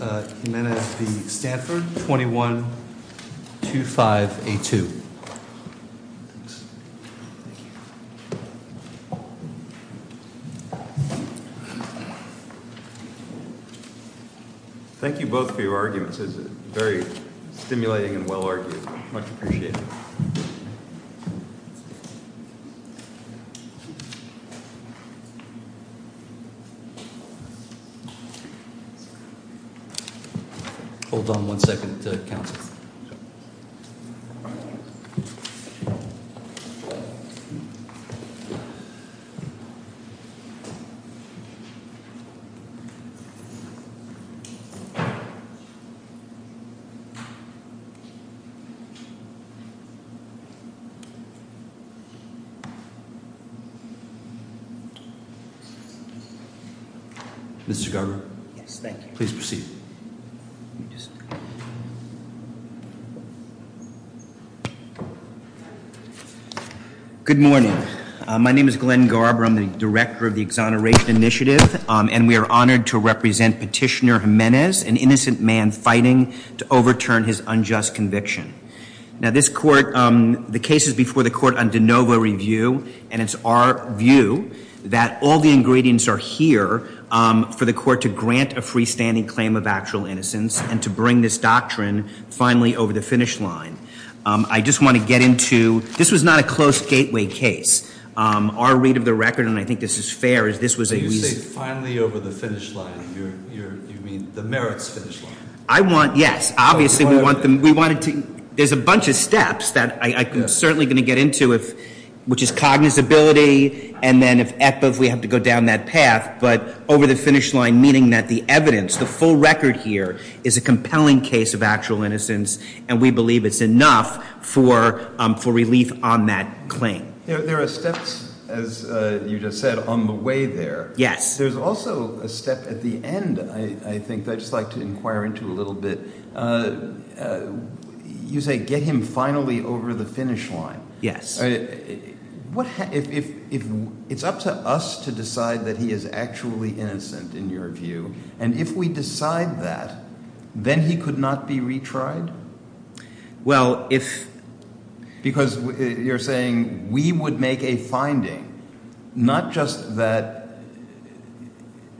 and Jimenez v. Stanford, 2125A2. Thank you. Thank you both for your arguments, it's very stimulating and well-argued. Much appreciated. Thank you. Hold on one second until it counts. Mr. Garber? Yes, thank you. Please proceed. Good morning. My name is Glenn Garber, I'm the director of the Exoneration Initiative and we are honored to represent Petitioner Jimenez, an innocent man fighting to overturn his unjust conviction. Now this court, the case is before the court on de novo review and it's our view that all the ingredients are here for the court to grant a freestanding claim of actual innocence and to bring this doctrine finally over the finish line. I just want to get into, this was not a close gateway case. Our read of the record, and I think this is fair, is this was a— When you say finally over the finish line, you mean the merits finish line? I want, yes. Obviously we want them, we wanted to, there's a bunch of steps that I'm certainly going to get into, which is cognizability, and then if we have to go down that path, but over the finish line, meaning that the evidence, the full record here is a compelling case of actual innocence and we believe it's enough for relief on that claim. There are steps, as you just said, on the way there. Yes. There's also a step at the end, I think, that I'd just like to inquire into a little bit. You say get him finally over the finish line. Yes. What, if it's up to us to decide that he is actually innocent, in your view, and if we decide that, then he could not be retried? Well, if— Because you're saying we would make a finding, not just that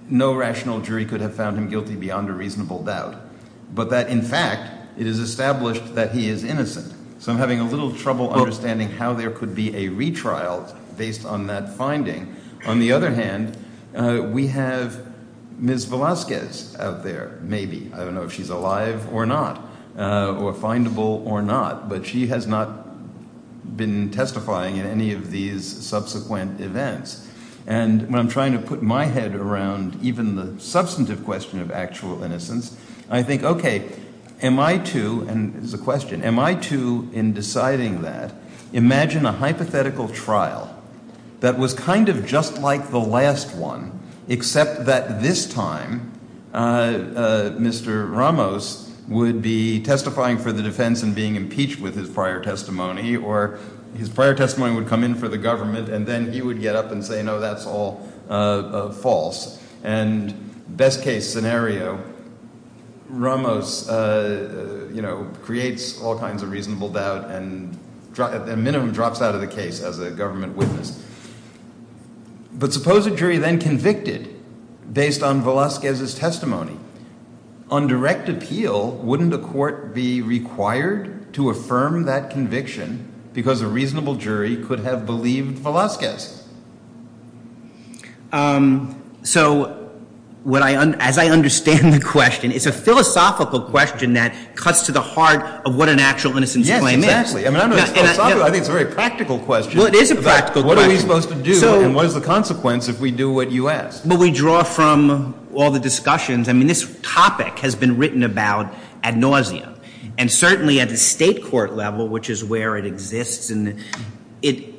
no rational jury could have found guilty beyond a reasonable doubt, but that in fact it is established that he is innocent. So I'm having a little trouble understanding how there could be a retrial based on that finding. On the other hand, we have Ms. Velasquez out there, maybe. I don't know if she's alive or not, or findable or not, but she has not been testifying in any of these subsequent events. And when I'm trying to put my head around even the substantive question of actual innocence, I think, okay, am I to—and this is a question—am I to, in deciding that, imagine a hypothetical trial that was kind of just like the last one, except that this time Mr. Ramos would be testifying for the defense and being impeached with his prior testimony, or his prior testimony would come in for the government, and then he would get up and say, no, that's all false. And best-case scenario, Ramos creates all kinds of reasonable doubt and a minimum drops out of the case as a government witness. But suppose a jury then convicted based on Velasquez's testimony. On direct appeal, wouldn't a court be required to affirm that conviction because a reasonable jury could have believed Velasquez? So, as I understand the question, it's a philosophical question that cuts to the heart of what an actual innocence claim is. Yes, exactly. I think it's a very practical question. Well, it is a practical question. What are we supposed to do, and what is the consequence if we do what you ask? Well, we draw from all the discussions. I mean, this topic has been written about ad nauseam. And certainly, at the state court level, which is where it exists,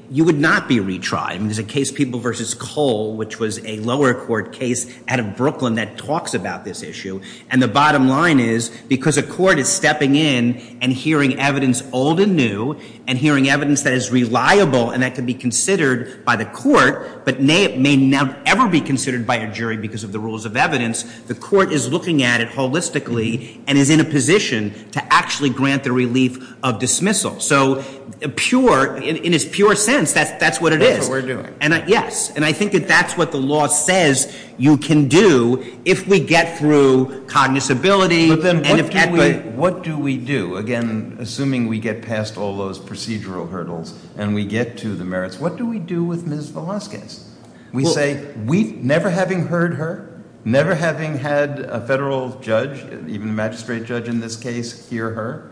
you would not be retried. I mean, there's a case, People v. Cole, which was a lower court case out of Brooklyn that talks about this issue. And the bottom line is, because a court is stepping in and hearing evidence old and new and hearing evidence that is reliable and that could be considered by the court but may not ever be considered by a jury because of the rules of evidence, the court is looking at it holistically and is in a position to actually grant the relief of dismissal. So, in its pure sense, that's what it is. That's what we're doing. Yes. And I think that that's what the law says you can do if we get through cognizability and effectivity. But then what do we do? Again, assuming we get past all those procedural hurdles and we get to the merits, what do we do with Ms. Velazquez? We say, never having heard her, never having had a federal judge, even a magistrate judge in this case, hear her,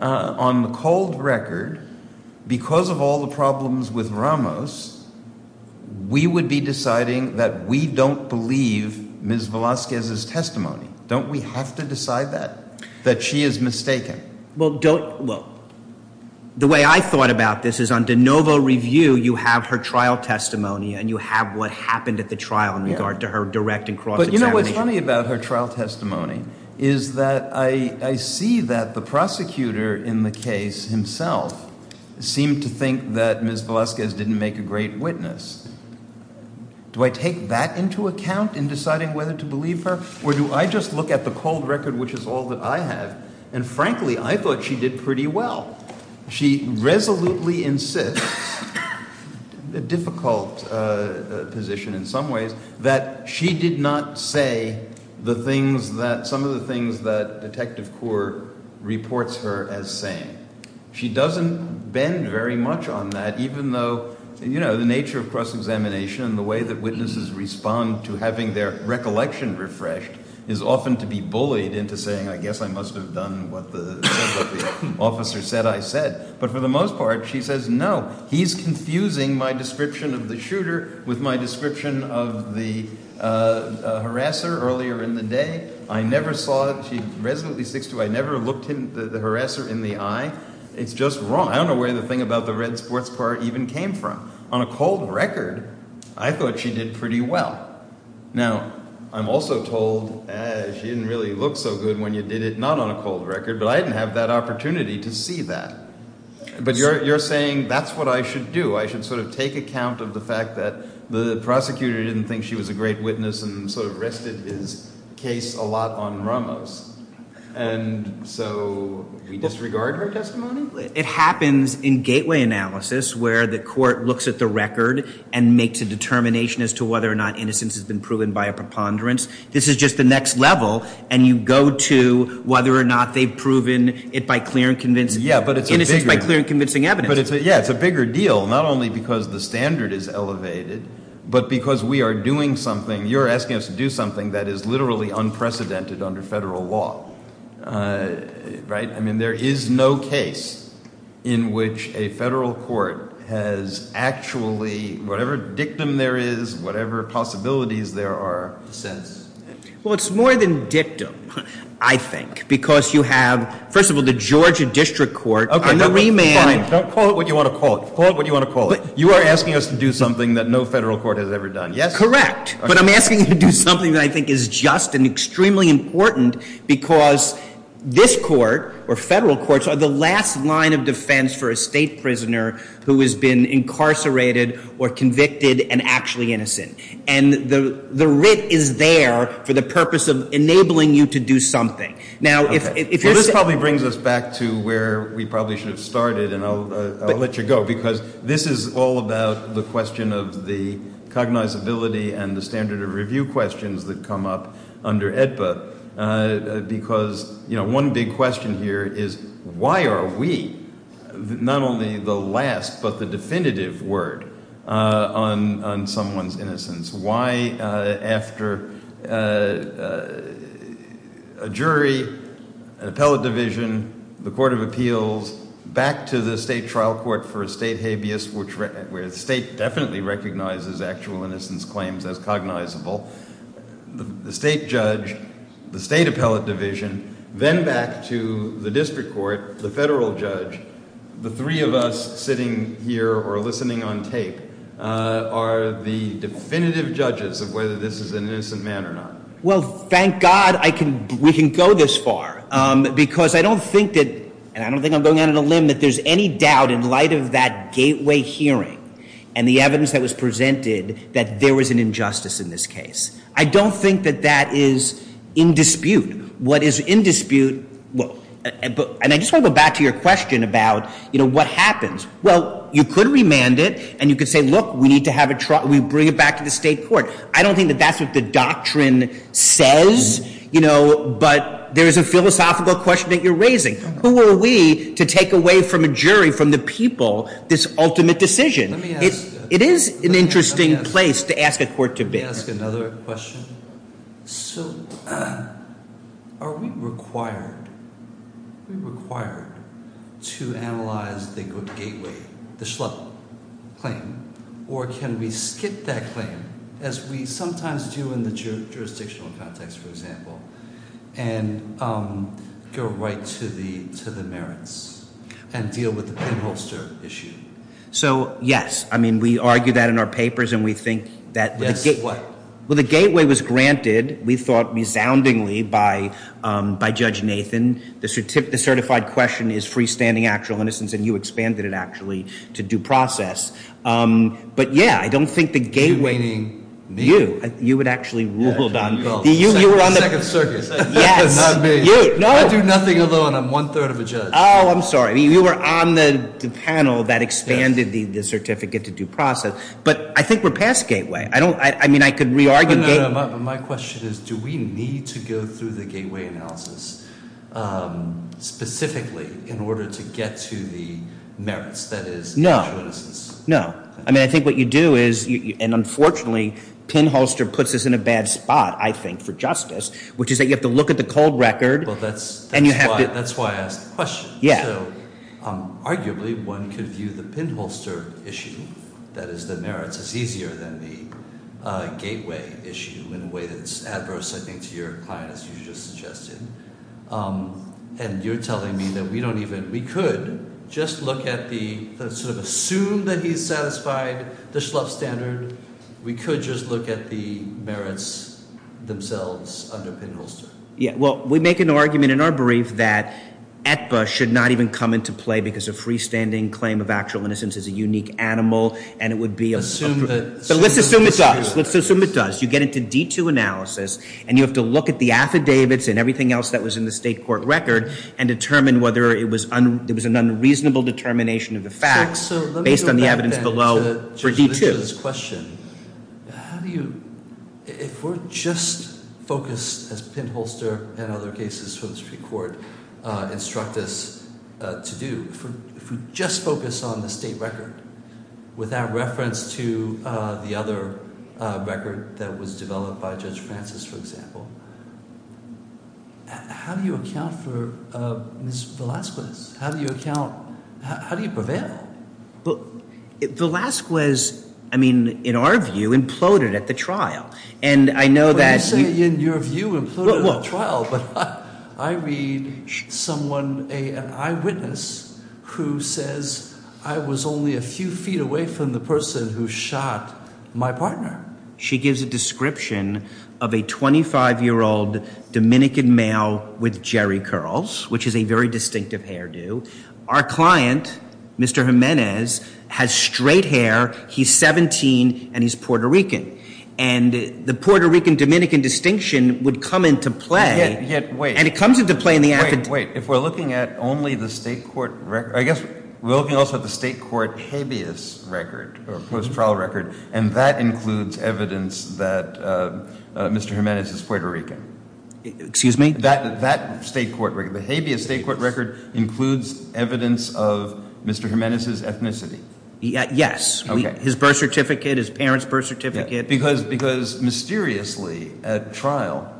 on the cold record, because of all the problems with Ramos, we would be deciding that we don't believe Ms. Velazquez's testimony. Don't we have to decide that, that she is mistaken? Well, the way I thought about this is on de novo review, you have her trial testimony and you have what happened at the trial in regard to her direct and cross examination. But you know what's funny about her trial testimony is that I see that the prosecutor in the case himself seemed to think that Ms. Velazquez didn't make a great witness. Do I take that into account in deciding whether to believe her or do I just look at the cold record, which is all that I have, and frankly, I thought she did pretty well. She resolutely insists, a difficult position in some ways, that she did not say the things that, some of the things that Detective Coore reports her as saying. She doesn't bend very much on that, even though, you know, the nature of cross examination and the way that witnesses respond to having their recollection refreshed is often to be bullied into saying, I guess I must have done what the officer said I said. But for the most part, she says, no, he's confusing my description of the shooter with my description of the harasser earlier in the day. I never saw it. She resolutely sticks to, I never looked him, the harasser in the eye. It's just wrong. I don't know where the thing about the red sports car even came from. On a cold record, I thought she did pretty well. Now, I'm also told she didn't really look so good when you did it, not on a cold record, but I didn't have that opportunity to see that. But you're saying that's what I should do. I should sort of take account of the fact that the prosecutor didn't think she was a great witness and sort of rested his case a lot on Ramos. And so we disregard her testimony? It happens in gateway analysis where the court looks at the record and makes a determination as to whether or not innocence has been proven by a preponderance. This is just the next level, and you go to whether or not they've proven it by clear and convincing, innocence by clear and convincing evidence. Yeah, it's a bigger deal, not only because the standard is elevated, but because we are doing something, you're asking us to do something that is literally unprecedented under federal law, right? I mean, there is no case in which a federal court has actually, whatever dictum there is, whatever possibilities there are, says. Well, it's more than dictum, I think, because you have, first of all, the Georgia District Court. Okay, fine. Don't call it what you want to call it. Call it what you want to call it. You are asking us to do something that no federal court has ever done, yes? Correct. But I'm asking you to do something that I think is just and extremely important because this court or federal courts are the last line of defense for a state prisoner who has been incarcerated or convicted and actually innocent. And the writ is there for the purpose of enabling you to do something. Okay. Well, this probably brings us back to where we probably should have started, and I'll let you go, because this is all about the question of the cognizability and the standard of review questions that come up under AEDPA because, you know, one big question here is why are we not only the last but the definitive word on someone's innocence? Why, after a jury, an appellate division, the court of appeals, back to the state trial court for a state habeas, where the state definitely recognizes actual innocence claims as cognizable, the state judge, the state appellate division, then back to the district court, the federal judge, The three of us sitting here or listening on tape are the definitive judges of whether this is an innocent man or not. Well, thank God we can go this far because I don't think that, and I don't think I'm going out on a limb, that there's any doubt in light of that gateway hearing and the evidence that was presented that there was an injustice in this case. And I just want to go back to your question about, you know, what happens. Well, you could remand it and you could say, look, we need to have a trial, we bring it back to the state court. I don't think that that's what the doctrine says, you know, but there is a philosophical question that you're raising. Who are we to take away from a jury, from the people, this ultimate decision? It is an interesting place to ask a court to bid. Can I ask another question? So are we required to analyze the gateway, the Schlupp claim, or can we skip that claim as we sometimes do in the jurisdictional context, for example, and go right to the merits and deal with the penholster issue? So, yes. I mean, we argue that in our papers and we think that the gateway was granted, we thought, resoundingly, by Judge Nathan. The certified question is freestanding actual innocence, and you expanded it, actually, to due process. But, yeah, I don't think the gateway— You meaning me? You. You would actually rule, Don. You're on the second circuit. Yes. Not me. You. I do nothing alone. I'm one-third of a judge. Oh, I'm sorry. You were on the panel that expanded the certificate to due process. But I think we're past gateway. I don't—I mean, I could re-argue— No, no, no. My question is do we need to go through the gateway analysis specifically in order to get to the merits, that is, actual innocence? No. No. I mean, I think what you do is—and, unfortunately, penholster puts us in a bad spot, I think, for justice, which is that you have to look at the cold record and you have to— Well, that's why I asked the question. Yeah. So, arguably, one could view the penholster issue, that is, the merits, as easier than the gateway issue in a way that's adverse, I think, to your client, as you just suggested. And you're telling me that we don't even—we could just look at the—assume that he's satisfied the Schlupf standard. We could just look at the merits themselves under penholster. Yeah. Well, we make an argument in our brief that Aetba should not even come into play because a freestanding claim of actual innocence is a unique animal and it would be— Assume that— So let's assume it does. Let's assume it does. You get into D2 analysis and you have to look at the affidavits and everything else that was in the state court record and determine whether it was an unreasonable determination of the facts based on the evidence below for D2. How do you—if we're just focused, as penholster and other cases from the Supreme Court instruct us to do, if we just focus on the state record without reference to the other record that was developed by Judge Francis, for example, how do you account for Ms. Velazquez? How do you account—how do you prevail? Velazquez, I mean, in our view, imploded at the trial. And I know that— But you say in your view imploded at the trial. But I read someone, an eyewitness, who says I was only a few feet away from the person who shot my partner. She gives a description of a 25-year-old Dominican male with jerry curls, which is a very distinctive hairdo. Our client, Mr. Jimenez, has straight hair. He's 17 and he's Puerto Rican. And the Puerto Rican-Dominican distinction would come into play— Yet, wait— And it comes into play in the affidavit— Wait, wait. If we're looking at only the state court record—I guess we're looking also at the state court habeas record or post-trial record, and that includes evidence that Mr. Jimenez is Puerto Rican. Excuse me? That state court record, the habeas state court record, includes evidence of Mr. Jimenez's ethnicity. Yes. Okay. His birth certificate, his parents' birth certificate. Because mysteriously at trial,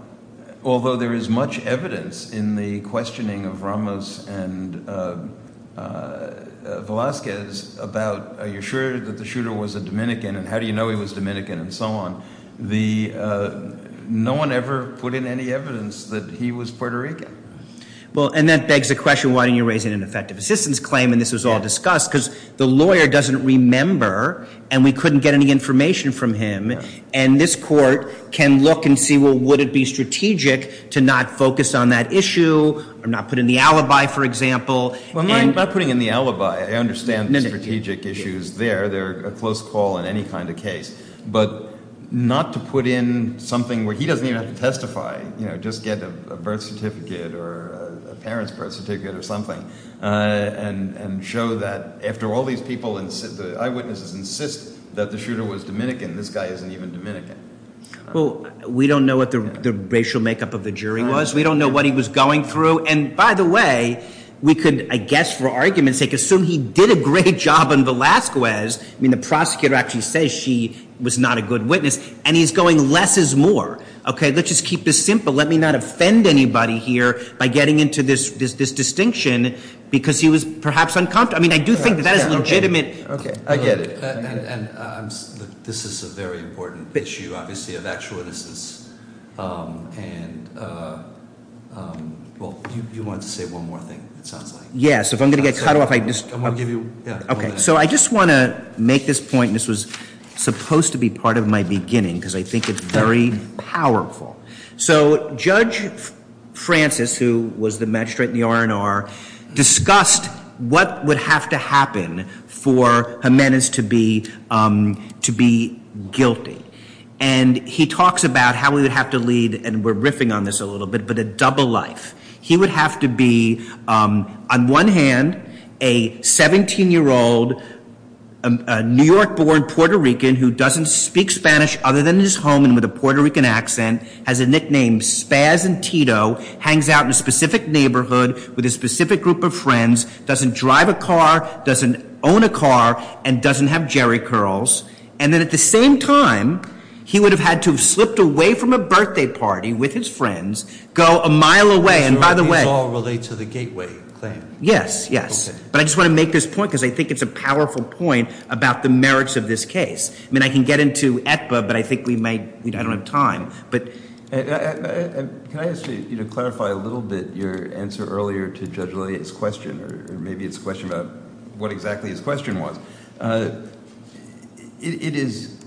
although there is much evidence in the questioning of Ramos and Velazquez about are you sure that the shooter was a Dominican and how do you know he was Dominican and so on, no one ever put in any evidence that he was Puerto Rican. Well, and that begs the question, why didn't you raise it in an effective assistance claim and this was all discussed? Because the lawyer doesn't remember and we couldn't get any information from him. And this court can look and see, well, would it be strategic to not focus on that issue or not put in the alibi, for example? Well, I'm not putting in the alibi. I understand the strategic issues there. They're a close call in any kind of case. But not to put in something where he doesn't even have to testify, just get a birth certificate or a parents' birth certificate or something, and show that after all these people, the eyewitnesses insist that the shooter was Dominican, this guy isn't even Dominican. Well, we don't know what the racial makeup of the jury was. We don't know what he was going through. And by the way, we could, I guess for argument's sake, assume he did a great job on Velazquez. I mean, the prosecutor actually says she was not a good witness, and he's going less is more. Okay, let's just keep this simple. Let me not offend anybody here by getting into this distinction because he was perhaps uncomfortable. I mean, I do think that that is legitimate. Okay, I get it. And this is a very important issue, obviously, of actual innocence. And well, you wanted to say one more thing, it sounds like. Yeah, so if I'm going to get cut off, I just- I'm going to give you, yeah. Okay, so I just want to make this point, and this was supposed to be part of my beginning because I think it's very powerful. So Judge Francis, who was the magistrate in the R&R, discussed what would have to happen for Jimenez to be guilty. And he talks about how we would have to lead, and we're riffing on this a little bit, but a double life. He would have to be, on one hand, a 17-year-old New York-born Puerto Rican who doesn't speak Spanish other than his home and with a Puerto Rican accent, has a nickname Spaz and Tito, hangs out in a specific neighborhood with a specific group of friends, doesn't drive a car, doesn't own a car, and doesn't have jerry curls. And then at the same time, he would have had to have slipped away from a birthday party with his friends, go a mile away, and by the way- These all relate to the Gateway claim. Yes, yes. Okay. But I just want to make this point because I think it's a powerful point about the merits of this case. I mean, I can get into Aetba, but I think we might- I don't have time, but- Can I ask you to clarify a little bit your answer earlier to Judge Lea's question, or maybe it's a question about what exactly his question was? It is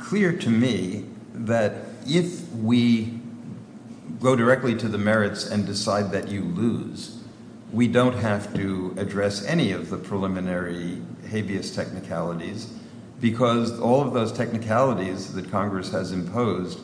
clear to me that if we go directly to the merits and decide that you lose, we don't have to address any of the preliminary habeas technicalities because all of those technicalities that Congress has imposed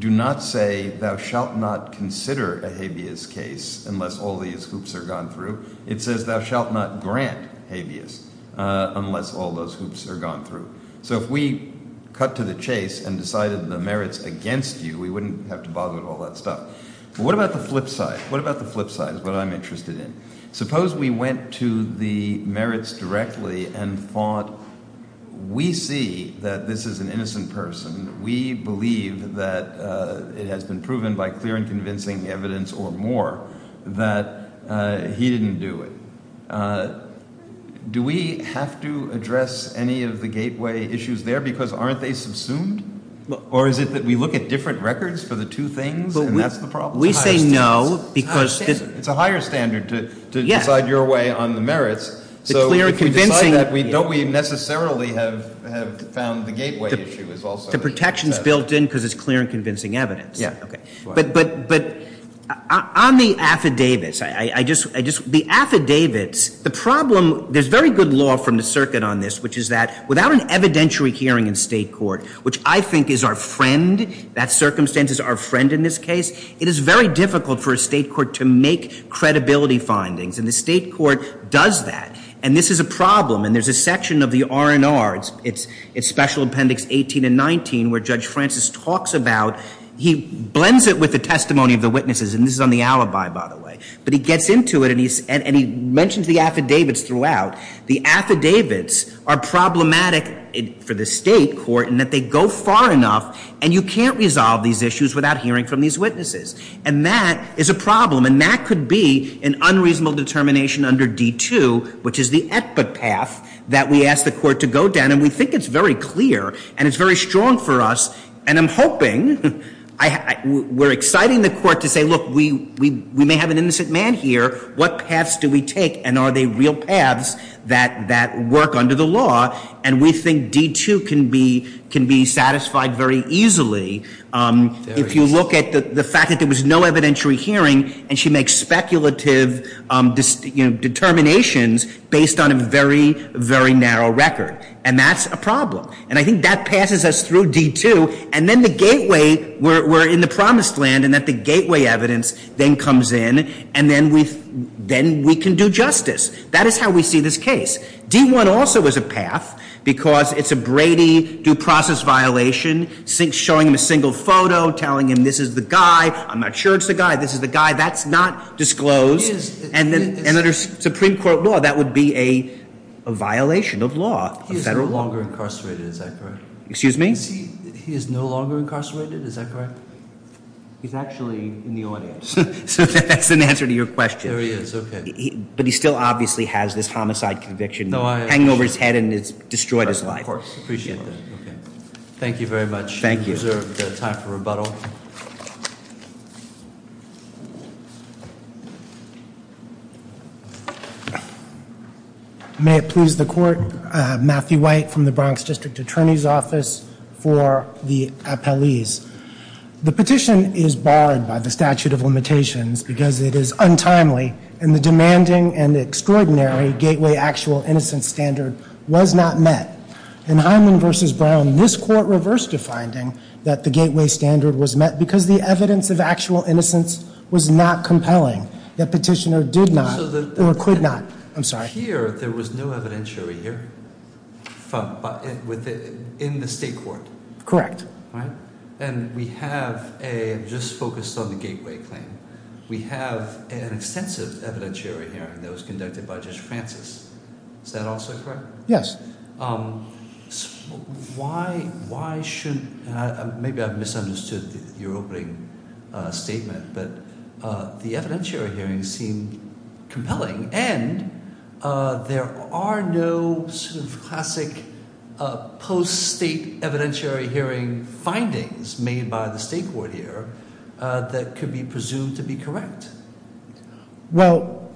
do not say, thou shalt not consider a habeas case unless all these hoops are gone through. It says, thou shalt not grant habeas unless all those hoops are gone through. So if we cut to the chase and decided the merits against you, we wouldn't have to bother with all that stuff. But what about the flip side? What about the flip side is what I'm interested in. Suppose we went to the merits directly and thought, we see that this is an innocent person. We believe that it has been proven by clear and convincing evidence or more that he didn't do it. Do we have to address any of the gateway issues there because aren't they subsumed? Or is it that we look at different records for the two things and that's the problem? We say no because- It's a higher standard to decide your way on the merits. So if we decide that, don't we necessarily have found the gateway issue is also- But the protection is built in because it's clear and convincing evidence. But on the affidavits, the problem, there's very good law from the circuit on this, which is that without an evidentiary hearing in state court, which I think is our friend, that circumstance is our friend in this case, it is very difficult for a state court to make credibility findings. And the state court does that. And this is a problem. And there's a section of the R&R, it's special appendix 18 and 19, where Judge Francis talks about, he blends it with the testimony of the witnesses. And this is on the alibi, by the way. But he gets into it and he mentions the affidavits throughout. The affidavits are problematic for the state court in that they go far enough and you can't resolve these issues without hearing from these witnesses. And that is a problem. And that could be an unreasonable determination under D2, which is the equit path, that we ask the court to go down. And we think it's very clear and it's very strong for us. And I'm hoping, we're exciting the court to say, look, we may have an innocent man here. What paths do we take? And are they real paths that work under the law? And we think D2 can be satisfied very easily. If you look at the fact that there was no evidentiary hearing and she makes speculative determinations based on a very, very narrow record. And that's a problem. And I think that passes us through D2. And then the gateway, we're in the promised land in that the gateway evidence then comes in, and then we can do justice. That is how we see this case. D1 also is a path because it's a Brady due process violation, showing him a single photo, telling him this is the guy. I'm not sure it's the guy. This is the guy. That's not disclosed. And under Supreme Court law, that would be a violation of law. He is no longer incarcerated, is that correct? Excuse me? He is no longer incarcerated, is that correct? He's actually in the audience. So that's an answer to your question. There he is, okay. But he still obviously has this homicide conviction hanging over his head and it's destroyed his life. Of course. Appreciate that. Thank you very much. Thank you. We reserve the time for rebuttal. May it please the Court, Matthew White from the Bronx District Attorney's Office for the appellees. The petition is barred by the statute of limitations because it is untimely, and the demanding and extraordinary gateway actual innocence standard was not met. In Hyman v. Brown, this court reversed the finding that the gateway standard was met because the evidence of actual innocence was not compelling. The petitioner did not or could not. I'm sorry. Here, there was no evidence over here in the state court. Correct. And we have a, just focused on the gateway claim, we have an extensive evidentiary hearing that was conducted by Judge Francis. Is that also correct? Yes. Why should, maybe I've misunderstood your opening statement, but the evidentiary hearings seem compelling, and there are no sort of classic post-state evidentiary hearing findings made by the state court here that could be presumed to be correct. Well,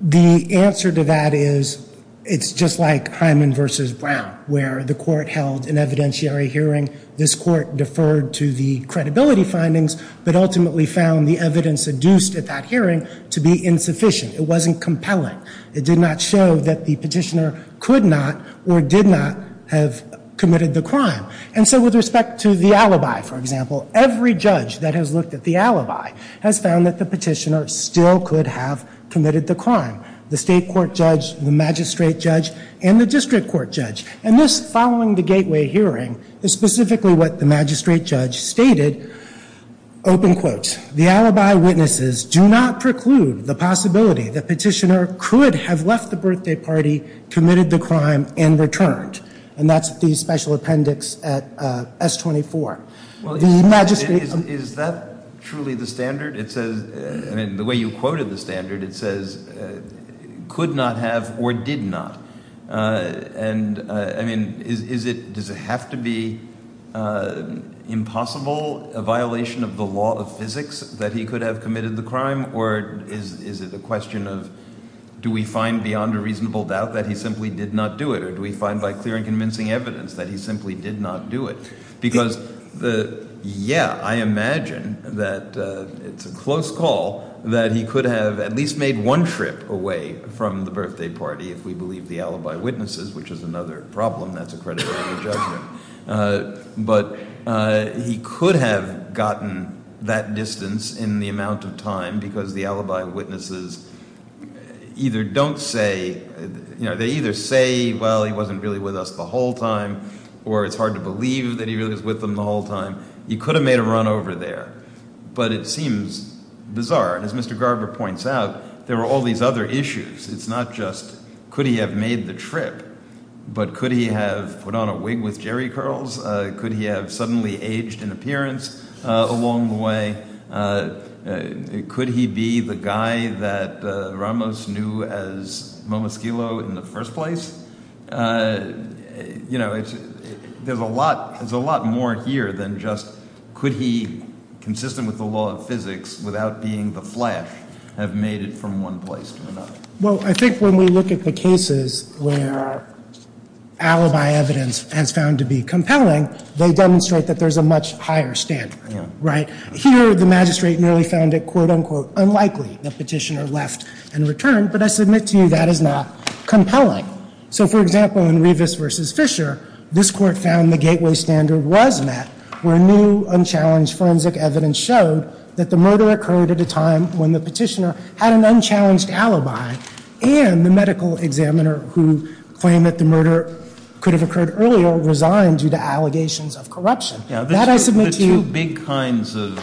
the answer to that is it's just like Hyman v. Brown, where the court held an evidentiary hearing. This court deferred to the credibility findings, but ultimately found the evidence induced at that hearing to be insufficient. It wasn't compelling. It did not show that the petitioner could not or did not have committed the crime. And so with respect to the alibi, for example, every judge that has looked at the alibi has found that the petitioner still could have committed the crime. The state court judge, the magistrate judge, and the district court judge. And this following the gateway hearing is specifically what the magistrate judge stated, open quotes, the alibi witnesses do not preclude the possibility the petitioner could have left the birthday party, committed the crime, and returned. And that's the special appendix at S-24. Well, is that truly the standard? It says, I mean, the way you quoted the standard, it says could not have or did not. And I mean, is it, does it have to be impossible, a violation of the law of physics that he could have committed the crime? Or is it a question of, do we find beyond a reasonable doubt that he simply did not do it? Or do we find by clear and convincing evidence that he simply did not do it? Because the, yeah, I imagine that it's a close call that he could have at least made one trip away from the birthday party, if we believe the alibi witnesses, which is another problem, that's accredited by the judgment. But he could have gotten that distance in the amount of time, because the alibi witnesses either don't say, you know, they either say, well, he wasn't really with us the whole time, or it's hard to believe that he really was with them the whole time. He could have made a run over there. But it seems bizarre. And as Mr. Garber points out, there were all these other issues. It's not just could he have made the trip, but could he have put on a wig with jerry curls? Could he have suddenly aged in appearance along the way? Could he be the guy that Ramos knew as Momoskilo in the first place? You know, there's a lot more here than just could he, consistent with the law of physics, without being the flash, have made it from one place to another. Well, I think when we look at the cases where alibi evidence has found to be compelling, they demonstrate that there's a much higher standard, right? Here, the magistrate merely found it, quote, unquote, unlikely the petitioner left and returned. But I submit to you that is not compelling. So, for example, in Rivas v. Fisher, this court found the gateway standard was met, where new, unchallenged forensic evidence showed that the murder occurred at a time when the petitioner had an unchallenged alibi and the medical examiner who claimed that the murder could have occurred earlier resigned due to allegations of corruption. That I submit to you. The two big kinds of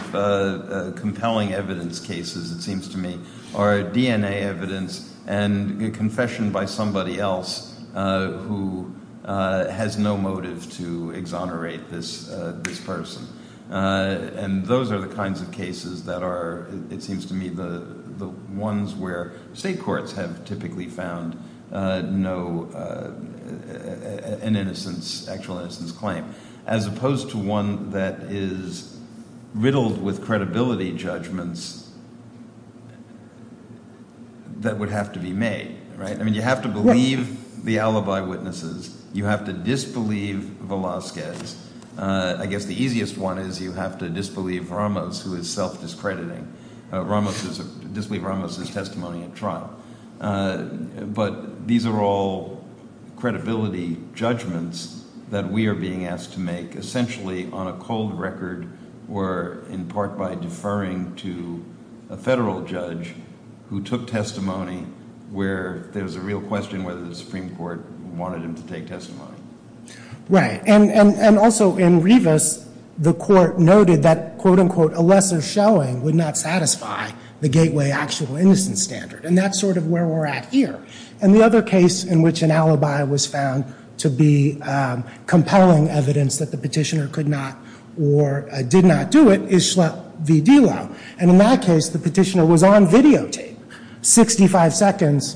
compelling evidence cases, it seems to me, are DNA evidence and a confession by somebody else who has no motive to exonerate this person. And those are the kinds of cases that are, it seems to me, the ones where state courts have typically found an innocence, actual innocence claim, as opposed to one that is riddled with credibility judgments that would have to be made, right? I mean, you have to believe the alibi witnesses. You have to disbelieve Velazquez. I guess the easiest one is you have to disbelieve Ramos, who is self-discrediting. Disbelieve Ramos' testimony at trial. But these are all credibility judgments that we are being asked to make essentially on a cold record or in part by deferring to a federal judge who took testimony where there's a real question whether the Supreme Court wanted him to take testimony. Right. And also in Rivas, the court noted that, quote, unquote, a lesser showing would not satisfy the gateway actual innocence standard. And that's sort of where we're at here. And the other case in which an alibi was found to be compelling evidence that the petitioner could not or did not do it is Schlepp v. Delo. And in that case, the petitioner was on videotape 65 seconds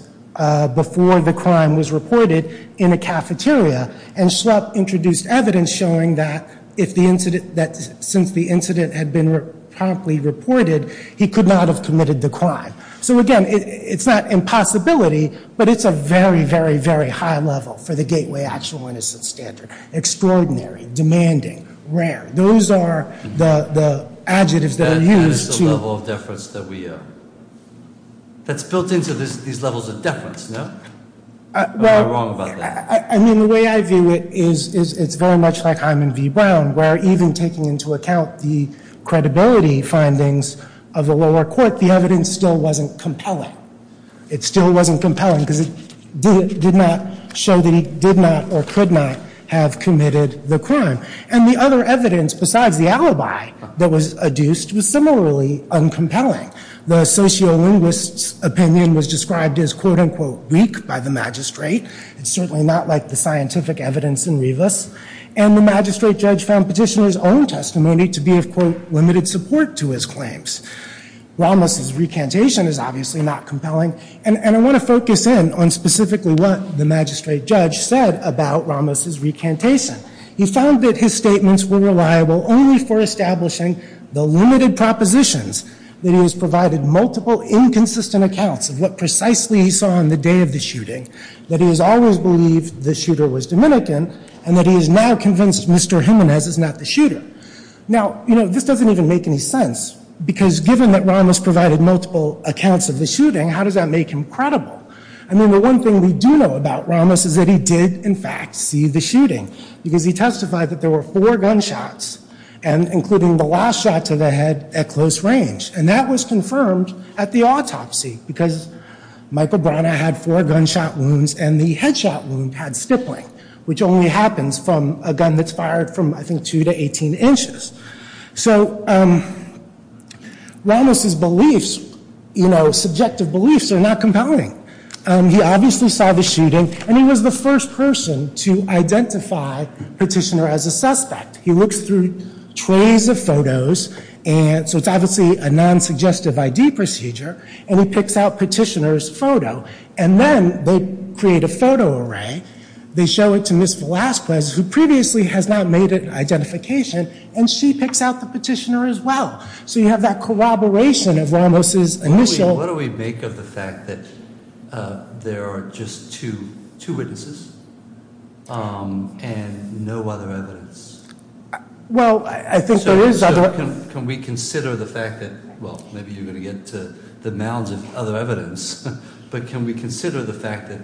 before the crime was reported in a cafeteria. And Schlepp introduced evidence showing that since the incident had been promptly reported, he could not have committed the crime. So, again, it's not impossibility, but it's a very, very, very high level for the gateway actual innocence standard. Extraordinary. Demanding. Rare. Those are the adjectives that are used to- That is the level of deference that we are- That's built into these levels of deference, no? Am I wrong about that? I mean, the way I view it is it's very much like Hyman v. Brown, where even taking into account the credibility findings of the lower court, the evidence still wasn't compelling. It still wasn't compelling because it did not show that he did not or could not have committed the crime. And the other evidence besides the alibi that was adduced was similarly uncompelling. The sociolinguist's opinion was described as, quote, unquote, weak by the magistrate. It's certainly not like the scientific evidence in Rivas. And the magistrate judge found petitioner's own testimony to be of, quote, limited support to his claims. Ramos' recantation is obviously not compelling. And I want to focus in on specifically what the magistrate judge said about Ramos' recantation. He found that his statements were reliable only for establishing the limited propositions, that he has provided multiple inconsistent accounts of what precisely he saw on the day of the shooting, that he has always believed the shooter was Dominican, and that he is now convinced Mr. Jimenez is not the shooter. Now, you know, this doesn't even make any sense because given that Ramos provided multiple accounts of the shooting, how does that make him credible? I mean, the one thing we do know about Ramos is that he did, in fact, see the shooting because he testified that there were four gunshots and including the last shot to the head at close range. And that was confirmed at the autopsy because Michael Brana had four gunshot wounds and the headshot wound had stippling, which only happens from a gun that's fired from, I think, two to 18 inches. So Ramos' beliefs, you know, subjective beliefs are not compelling. He obviously saw the shooting, and he was the first person to identify petitioner as a suspect. He looks through trays of photos, and so it's obviously a non-suggestive ID procedure, and he picks out petitioner's photo, and then they create a photo array. They show it to Ms. Velazquez, who previously has not made an identification, and she picks out the petitioner as well. So you have that corroboration of Ramos' initial- Well, I think there is other- So can we consider the fact that, well, maybe you're going to get to the mounds of other evidence, but can we consider the fact that,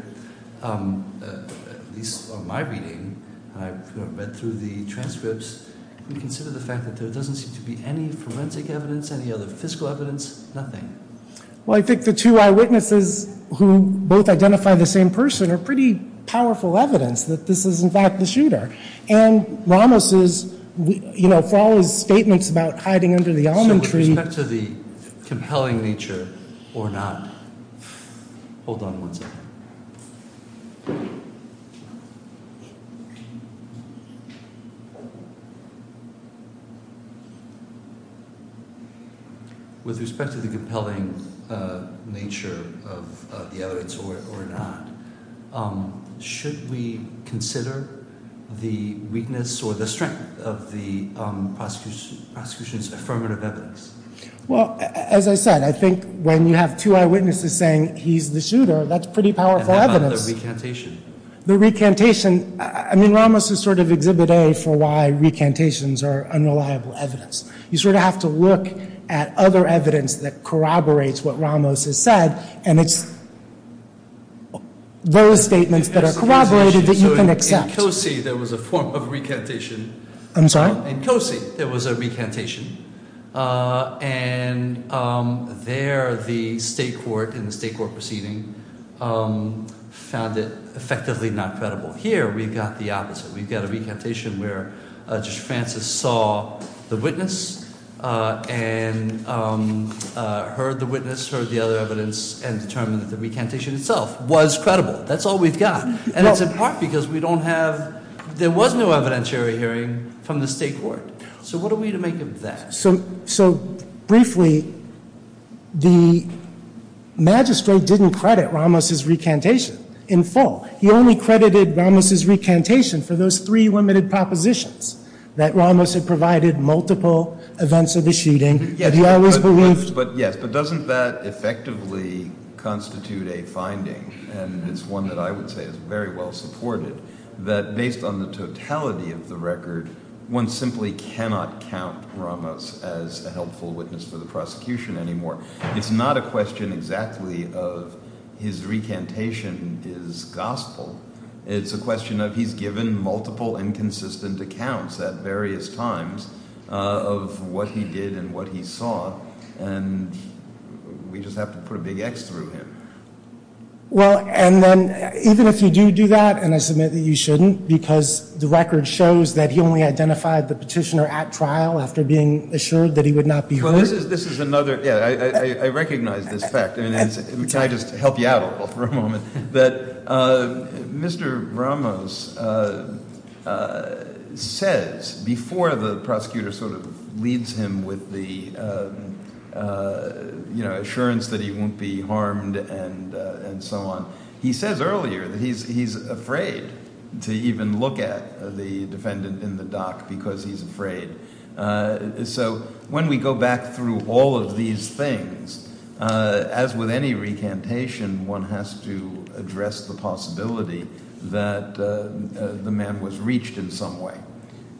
at least on my reading, and I've read through the transcripts, can we consider the fact that there doesn't seem to be any forensic evidence, any other fiscal evidence, nothing? Well, I think the two eyewitnesses who both identify the same person are pretty powerful evidence that this is, in fact, the shooter. And Ramos is, you know, for all his statements about hiding under the almond tree- So with respect to the compelling nature or not- Hold on one second. With respect to the compelling nature of the evidence or not, should we consider the weakness or the strength of the prosecution's affirmative evidence? Well, as I said, I think when you have two eyewitnesses saying he's the shooter, that's pretty powerful evidence. And how about the recantation? The recantation, I mean, Ramos is sort of exhibit A for why recantations are unreliable evidence. You sort of have to look at other evidence that corroborates what Ramos has said, and it's those statements that are corroborated that you can accept. So in Cosi, there was a form of recantation. I'm sorry? In Cosi, there was a recantation. And there, the state court in the state court proceeding found it effectively not credible. Here, we've got the opposite. We've got a recantation where Judge Francis saw the witness and heard the witness, heard the other evidence, and determined that the recantation itself was credible. That's all we've got. And it's in part because we don't have, there was no evidentiary hearing from the state court. So what are we to make of that? So briefly, the magistrate didn't credit Ramos' recantation in full. He only credited Ramos' recantation for those three limited propositions that Ramos had provided multiple events of the shooting that he always believed. Yes, but doesn't that effectively constitute a finding, and it's one that I would say is very well supported, that based on the totality of the record, one simply cannot count Ramos as a helpful witness for the prosecution anymore. It's not a question exactly of his recantation is gospel. It's a question of he's given multiple inconsistent accounts at various times of what he did and what he saw, and we just have to put a big X through him. Well, and then even if you do do that, and I submit that you shouldn't, because the record shows that he only identified the petitioner at trial after being assured that he would not be heard. Well, this is another – yeah, I recognize this fact. Can I just help you out a little for a moment? That Mr. Ramos says before the prosecutor sort of leads him with the assurance that he won't be harmed and so on, he says earlier that he's afraid to even look at the defendant in the dock because he's afraid. So when we go back through all of these things, as with any recantation, one has to address the possibility that the man was reached in some way.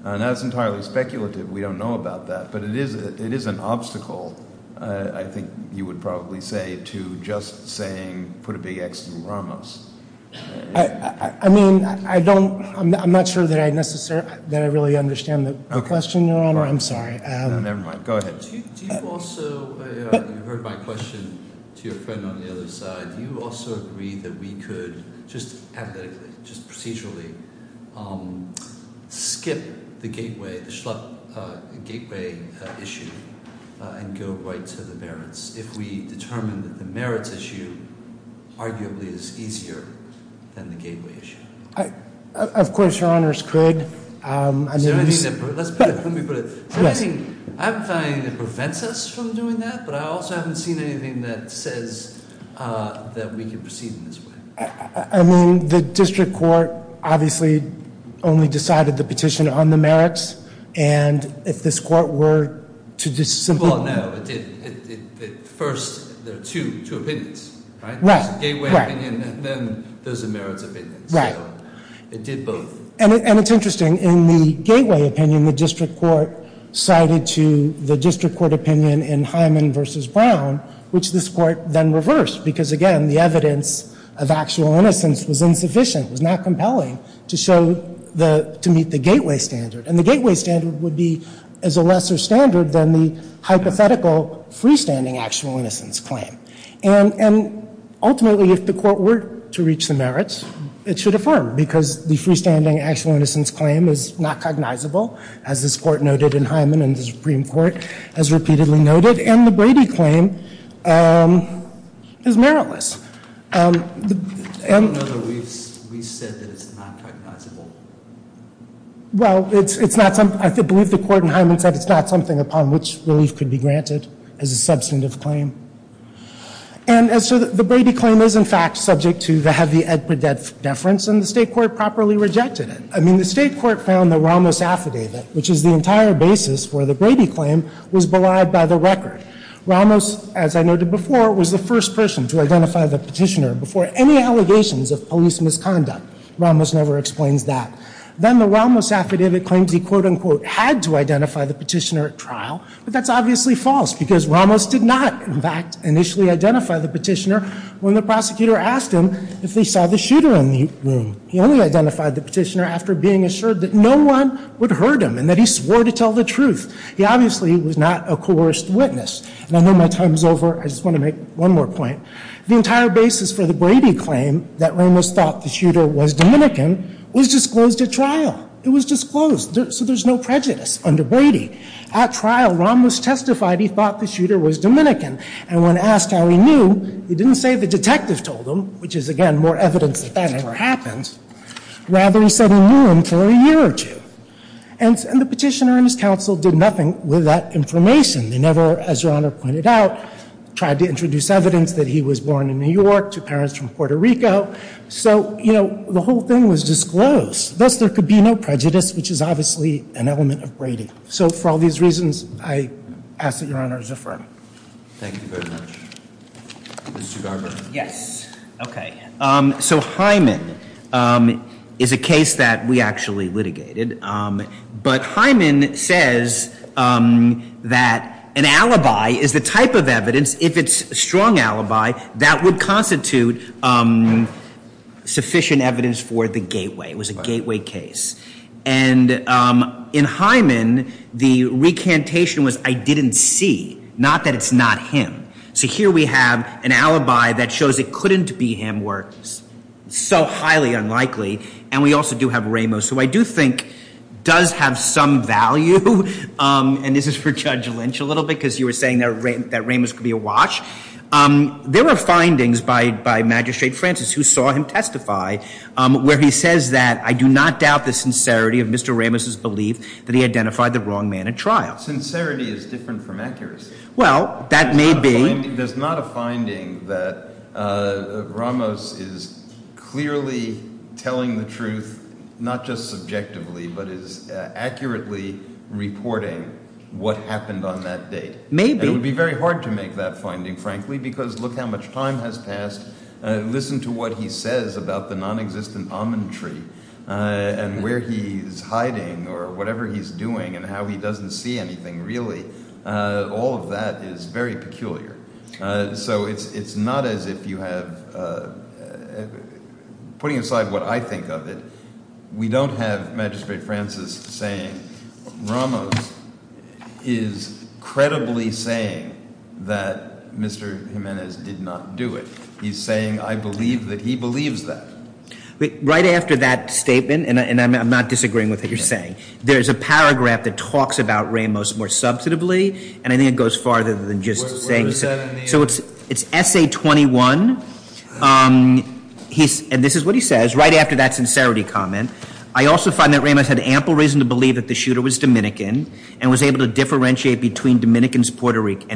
Now, that's entirely speculative. We don't know about that, but it is an obstacle, I think you would probably say, to just saying put a big X through Ramos. I mean, I don't – I'm not sure that I really understand the question, Your Honor. I'm sorry. Never mind. Go ahead. Do you also – you heard my question to your friend on the other side. Do you also agree that we could just analytically, just procedurally, skip the gateway issue and go right to the merits? If we determine that the merits issue arguably is easier than the gateway issue. Of course, Your Honors, could. Is there anything that prevents us from doing that? But I also haven't seen anything that says that we can proceed in this way. I mean, the district court obviously only decided the petition on the merits. And if this court were to just simply- Well, no, it didn't. First, there are two opinions, right? Right. There's the gateway opinion and then there's the merits opinion. Right. So it did both. And it's interesting. In the gateway opinion, the district court sided to the district court opinion in Hyman v. Brown, which this court then reversed because, again, the evidence of actual innocence was insufficient, was not compelling to show the – to meet the gateway standard. And the gateway standard would be as a lesser standard than the hypothetical freestanding actual innocence claim. And ultimately, if the court were to reach the merits, it should affirm, because the freestanding actual innocence claim is not cognizable, as this court noted in Hyman and the Supreme Court has repeatedly noted. And the Brady claim is meritless. I don't know that we've said that it's not cognizable. Well, it's not something – I believe the court in Hyman said it's not something upon which relief could be granted as a substantive claim. And so the Brady claim is, in fact, subject to the heavy Ed Pradet deference, and the state court properly rejected it. I mean, the state court found that Ramos affidavit, which is the entire basis for the Brady claim, was belied by the record. Ramos, as I noted before, was the first person to identify the petitioner before any allegations of police misconduct. Ramos never explains that. Then the Ramos affidavit claims he, quote-unquote, had to identify the petitioner at trial, but that's obviously false because Ramos did not, in fact, initially identify the petitioner when the prosecutor asked him if they saw the shooter in the room. He only identified the petitioner after being assured that no one would hurt him and that he swore to tell the truth. He obviously was not a coerced witness. And I know my time is over. I just want to make one more point. The entire basis for the Brady claim, that Ramos thought the shooter was Dominican, was disclosed at trial. It was disclosed. So there's no prejudice under Brady. At trial, Ramos testified he thought the shooter was Dominican. And when asked how he knew, he didn't say the detective told him, which is, again, more evidence that that never happened. Rather, he said he knew him for a year or two. And the petitioner and his counsel did nothing with that information. They never, as Your Honor pointed out, tried to introduce evidence that he was born in New York, two parents from Puerto Rico. So, you know, the whole thing was disclosed. Thus, there could be no prejudice, which is obviously an element of Brady. So for all these reasons, I ask that Your Honor's affirm. Thank you very much. Mr. Garber. Yes. Okay. So Hyman is a case that we actually litigated. But Hyman says that an alibi is the type of evidence, if it's a strong alibi, that would constitute sufficient evidence for the gateway. It was a gateway case. And in Hyman, the recantation was, I didn't see, not that it's not him. So here we have an alibi that shows it couldn't be him were so highly unlikely. And we also do have Ramos. Who I do think does have some value. And this is for Judge Lynch a little bit because you were saying that Ramos could be a watch. There were findings by Magistrate Francis who saw him testify where he says that, I do not doubt the sincerity of Mr. Ramos' belief that he identified the wrong man at trial. Sincerity is different from accuracy. Well, that may be. There's not a finding that Ramos is clearly telling the truth, not just subjectively, but is accurately reporting what happened on that date. Maybe. And it would be very hard to make that finding, frankly, because look how much time has passed. Listen to what he says about the nonexistent almond tree and where he's hiding or whatever he's doing and how he doesn't see anything really. All of that is very peculiar. So it's not as if you have, putting aside what I think of it, we don't have Magistrate Francis saying Ramos is credibly saying that Mr. Jimenez did not do it. He's saying I believe that he believes that. Right after that statement, and I'm not disagreeing with what you're saying, there's a paragraph that talks about Ramos more substantively, and I think it goes farther than just saying so. So it's essay 21, and this is what he says right after that sincerity comment. I also find that Ramos had ample reason to believe that the shooter was Dominican and was able to differentiate between Dominicans and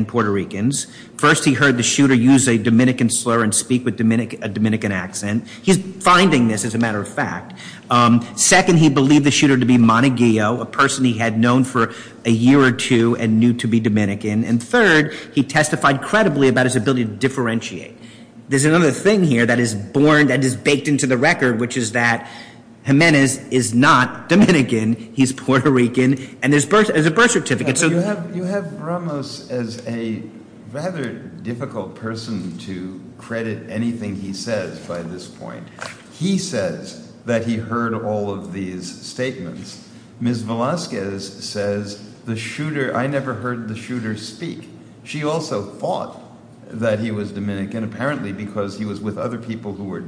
Puerto Ricans. First, he heard the shooter use a Dominican slur and speak with a Dominican accent. He's finding this as a matter of fact. Second, he believed the shooter to be Montague, a person he had known for a year or two and knew to be Dominican. And third, he testified credibly about his ability to differentiate. There's another thing here that is born, that is baked into the record, which is that Jimenez is not Dominican. He's Puerto Rican, and there's a birth certificate. You have Ramos as a rather difficult person to credit anything he says by this point. He says that he heard all of these statements. Ms. Velazquez says the shooter – I never heard the shooter speak. She also thought that he was Dominican apparently because he was with other people who were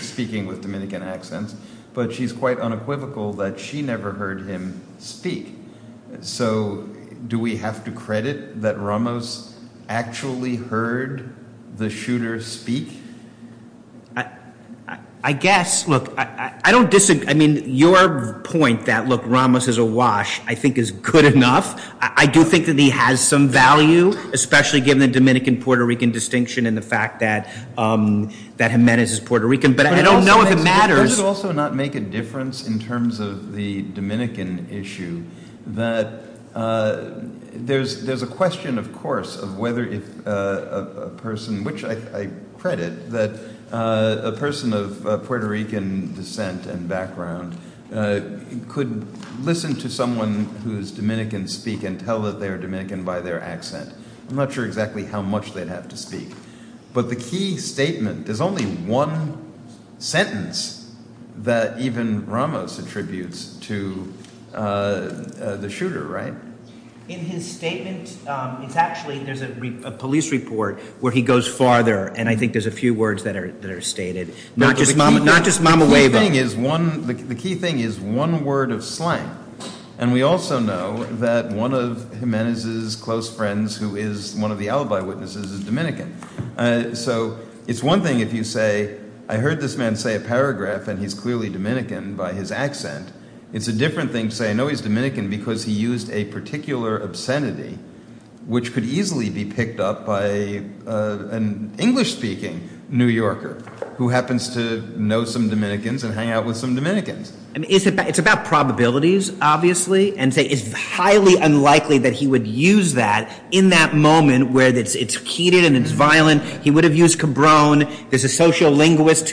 speaking with Dominican accents, but she's quite unequivocal that she never heard him speak. So do we have to credit that Ramos actually heard the shooter speak? I guess. Look, I don't – I mean, your point that, look, Ramos is a wash I think is good enough. I do think that he has some value, especially given the Dominican-Puerto Rican distinction and the fact that Jimenez is Puerto Rican. But I don't know if it matters. It does also not make a difference in terms of the Dominican issue that there's a question, of course, of whether if a person – which I credit that a person of Puerto Rican descent and background could listen to someone who's Dominican speak and tell that they're Dominican by their accent. I'm not sure exactly how much they'd have to speak. But the key statement – there's only one sentence that even Ramos attributes to the shooter, right? In his statement, it's actually – there's a police report where he goes farther, and I think there's a few words that are stated. Not just mama – not just mama weba. The key thing is one – the key thing is one word of slang. And we also know that one of Jimenez's close friends who is one of the alibi witnesses is Dominican. So it's one thing if you say I heard this man say a paragraph and he's clearly Dominican by his accent. It's a different thing to say I know he's Dominican because he used a particular obscenity, which could easily be picked up by an English-speaking New Yorker who happens to know some Dominicans and hang out with some Dominicans. It's about probabilities, obviously, and say it's highly unlikely that he would use that in that moment where it's heated and it's violent. He would have used cabrone. There's a sociolinguist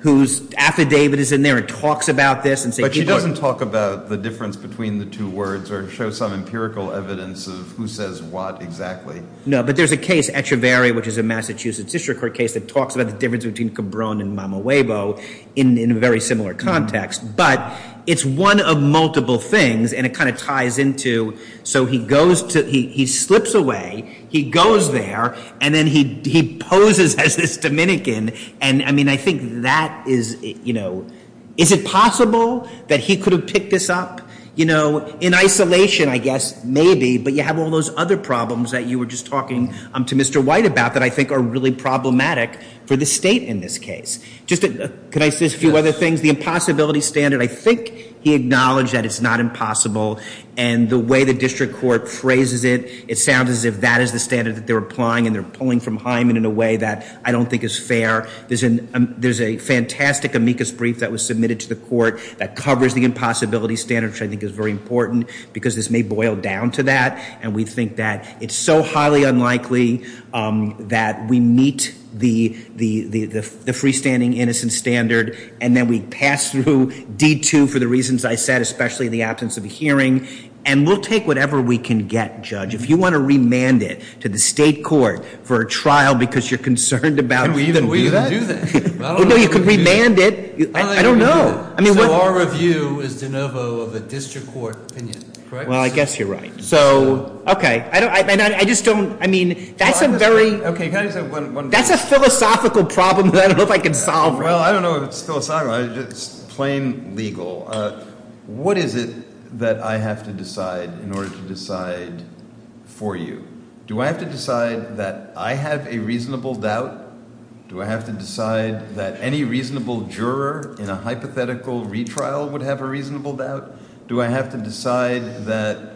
whose affidavit is in there. It talks about this and say – But she doesn't talk about the difference between the two words or show some empirical evidence of who says what exactly. No, but there's a case, Echeveria, which is a Massachusetts district court case that talks about the difference between cabrone and mama webo in a very similar context, but it's one of multiple things, and it kind of ties into – so he goes to – he slips away. He goes there, and then he poses as this Dominican, and, I mean, I think that is – is it possible that he could have picked this up? In isolation, I guess, maybe, but you have all those other problems that you were just talking to Mr. White about that I think are really problematic for the state in this case. Just – could I say a few other things? The impossibility standard, I think he acknowledged that it's not impossible, and the way the district court phrases it, it sounds as if that is the standard that they're applying and they're pulling from Hyman in a way that I don't think is fair. There's a fantastic amicus brief that was submitted to the court that covers the impossibility standard, which I think is very important because this may boil down to that, and we think that it's so highly unlikely that we meet the freestanding innocent standard, and then we pass through D-2 for the reasons I said, especially the absence of a hearing, and we'll take whatever we can get, Judge. If you want to remand it to the state court for a trial because you're concerned about – Can we even do that? No, you could remand it. I don't know. So our review is de novo of a district court opinion, correct? Well, I guess you're right. So, okay. I just don't – I mean, that's a very – Okay, can I just say one thing? That's a philosophical problem that I don't know if I can solve right now. Well, I don't know if it's philosophical. It's plain legal. What is it that I have to decide in order to decide for you? Do I have to decide that I have a reasonable doubt? Do I have to decide that any reasonable juror in a hypothetical retrial would have a reasonable doubt? Do I have to decide that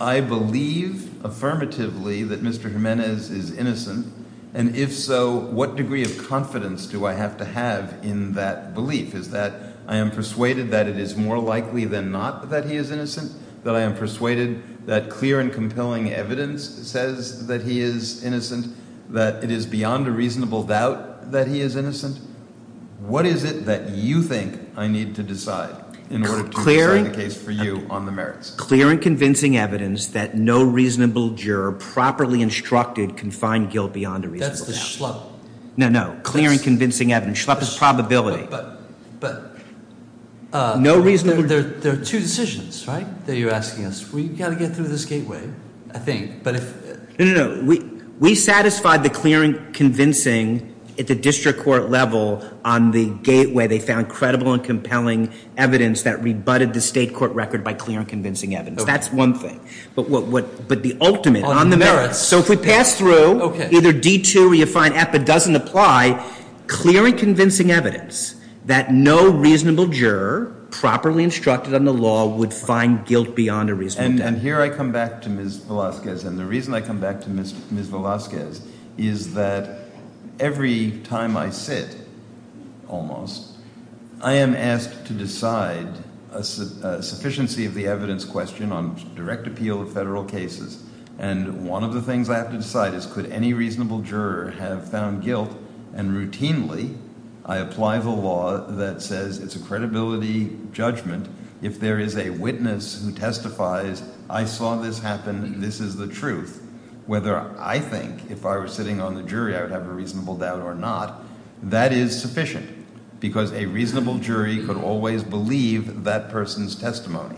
I believe affirmatively that Mr. Jimenez is innocent? And if so, what degree of confidence do I have to have in that belief? Is that I am persuaded that it is more likely than not that he is innocent, that I am persuaded that clear and compelling evidence says that he is innocent, that it is beyond a reasonable doubt that he is innocent? What is it that you think I need to decide in order to decide? I'm sorry, the case for you on the merits. Clear and convincing evidence that no reasonable juror properly instructed can find guilt beyond a reasonable doubt. That's the schlup. No, no. Clear and convincing evidence. Schlup is probability. But – No reasonable – There are two decisions, right, that you're asking us. We've got to get through this gateway, I think, but if – No, no, no. We satisfied the clear and convincing at the district court level on the gateway. They found credible and compelling evidence that rebutted the state court record by clear and convincing evidence. That's one thing. But what – but the ultimate on the merits – On the merits. So if we pass through either D2 or you find EPA doesn't apply, clear and convincing evidence that no reasonable juror properly instructed under law would find guilt beyond a reasonable doubt. And here I come back to Ms. Velazquez, and the reason I come back to Ms. Velazquez is that every time I sit, almost, I am asked to decide a sufficiency of the evidence question on direct appeal of federal cases. And one of the things I have to decide is could any reasonable juror have found guilt and routinely I apply the law that says it's a credibility judgment. If there is a witness who testifies, I saw this happen, this is the truth, whether I think if I were sitting on the jury, I would have a reasonable doubt or not, that is sufficient because a reasonable jury could always believe that person's testimony.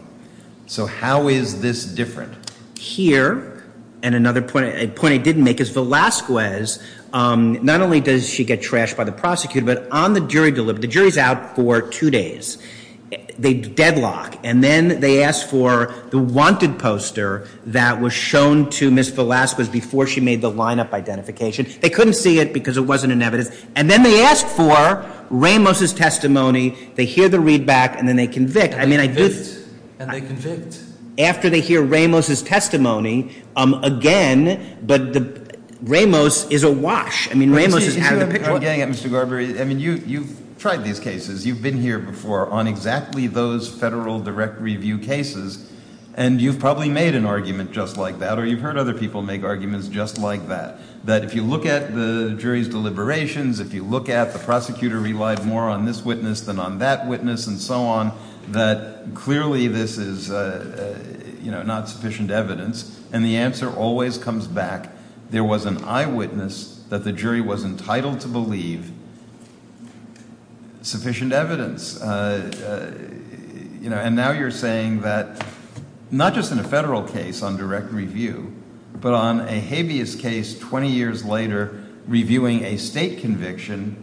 So how is this different? Here, and another point I didn't make is Velazquez, not only does she get trashed by the prosecutor, but on the jury delivery, the jury is out for two days. They deadlock and then they ask for the wanted poster that was shown to Ms. Velazquez before she made the lineup identification. They couldn't see it because it wasn't in evidence. And then they ask for Ramos' testimony. They hear the readback and then they convict. I mean, I do. And they convict. After they hear Ramos' testimony again, but Ramos is awash. I mean, Ramos is out of the picture. I'm getting at Mr. Garber. I mean, you've tried these cases. You've been here before on exactly those federal direct review cases, and you've probably made an argument just like that, or you've heard other people make arguments just like that, that if you look at the jury's deliberations, if you look at the prosecutor relied more on this witness than on that witness and so on, that clearly this is not sufficient evidence. And the answer always comes back. There was an eyewitness that the jury was entitled to believe sufficient evidence. And now you're saying that not just in a federal case on direct review, but on a habeas case 20 years later reviewing a state conviction,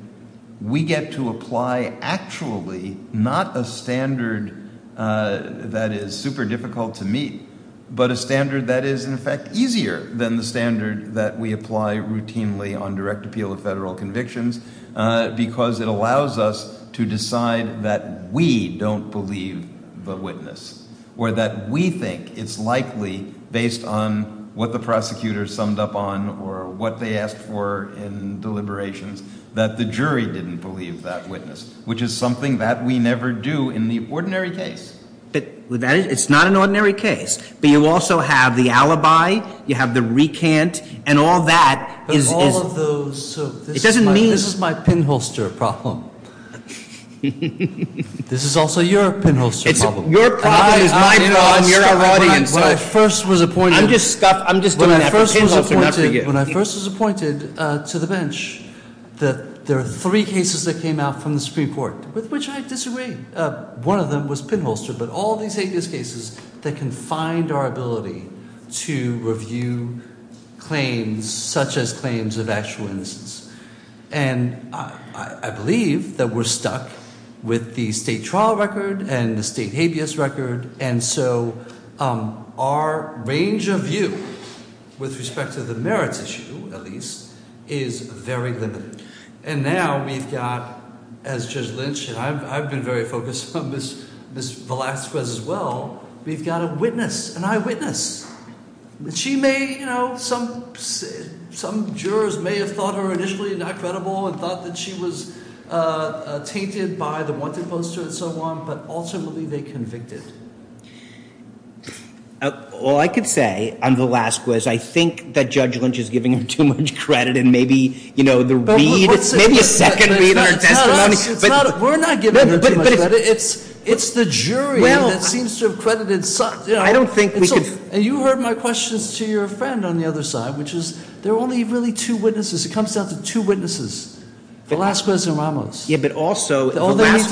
we get to apply actually not a standard that is super difficult to meet, but a standard that is, in effect, easier than the standard that we apply routinely on direct appeal of federal convictions because it allows us to decide that we don't believe the witness or that we think it's likely, based on what the prosecutor summed up on or what they asked for in deliberations, that the jury didn't believe that witness, which is something that we never do in the ordinary case. It's not an ordinary case. But you also have the alibi. You have the recant. And all that is... But all of those... It doesn't mean... This is my pinholster problem. This is also your pinholster problem. Your problem is my problem. You're our audience. When I first was appointed... I'm just doing that for pinholster, not for you. When I first was appointed to the bench, there were three cases that came out from the Supreme Court, with which I disagree. One of them was pinholster, but all these habeas cases that confined our ability to review claims such as claims of actual innocence. And I believe that we're stuck with the state trial record and the state habeas record. And so our range of view, with respect to the merits issue, at least, is very limited. And now we've got, as Judge Lynch... I've been very focused on Ms. Velazquez as well. We've got a witness, an eyewitness. She may... Some jurors may have thought her initially not credible and thought that she was tainted by the wanted poster and so on. But ultimately, they convicted. All I could say on Velazquez, I think that Judge Lynch is giving her too much credit. And maybe the read, maybe a second read on her testimony... We're not giving her too much credit. It's the jury that seems to have credited... I don't think we could... And you heard my questions to your friend on the other side, which is there are only really two witnesses. It comes down to two witnesses, Velazquez and Ramos. Yeah, but also... All they need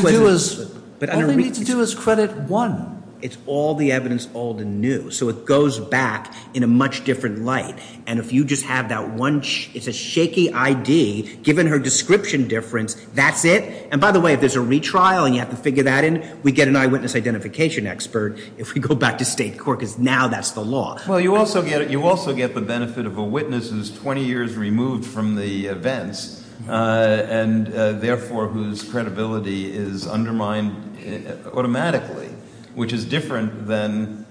to do is credit one. It's all the evidence old and new. So it goes back in a much different light. And if you just have that one... It's a shaky ID. Given her description difference, that's it. And by the way, if there's a retrial and you have to figure that in, we get an eyewitness identification expert if we go back to state court because now that's the law. Well, you also get the benefit of a witness who's 20 years removed from the events and therefore whose credibility is undermined automatically, which is different than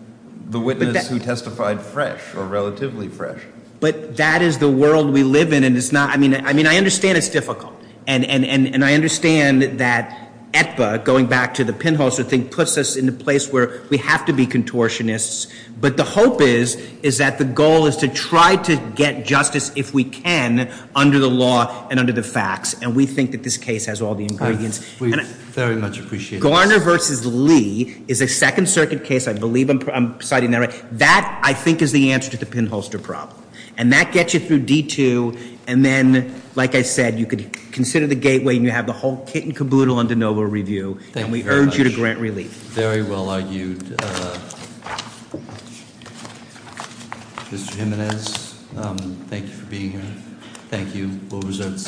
the witness who testified fresh or relatively fresh. But that is the world we live in and it's not... I mean, I understand it's difficult. And I understand that Aetba, going back to the pinhole sort of thing, puts us in a place where we have to be contortionists. But the hope is that the goal is to try to get justice, if we can, under the law and under the facts. And we think that this case has all the ingredients. We very much appreciate this. Garner v. Lee is a Second Circuit case. I believe I'm citing that right. That, I think, is the answer to the pinholster problem. And that gets you through D2. And then, like I said, you could consider the gateway and you have the whole kit and caboodle on de novo review. Thank you very much. And we urge you to grant relief. Very well argued. Mr. Jiminez, thank you for being here. Thank you.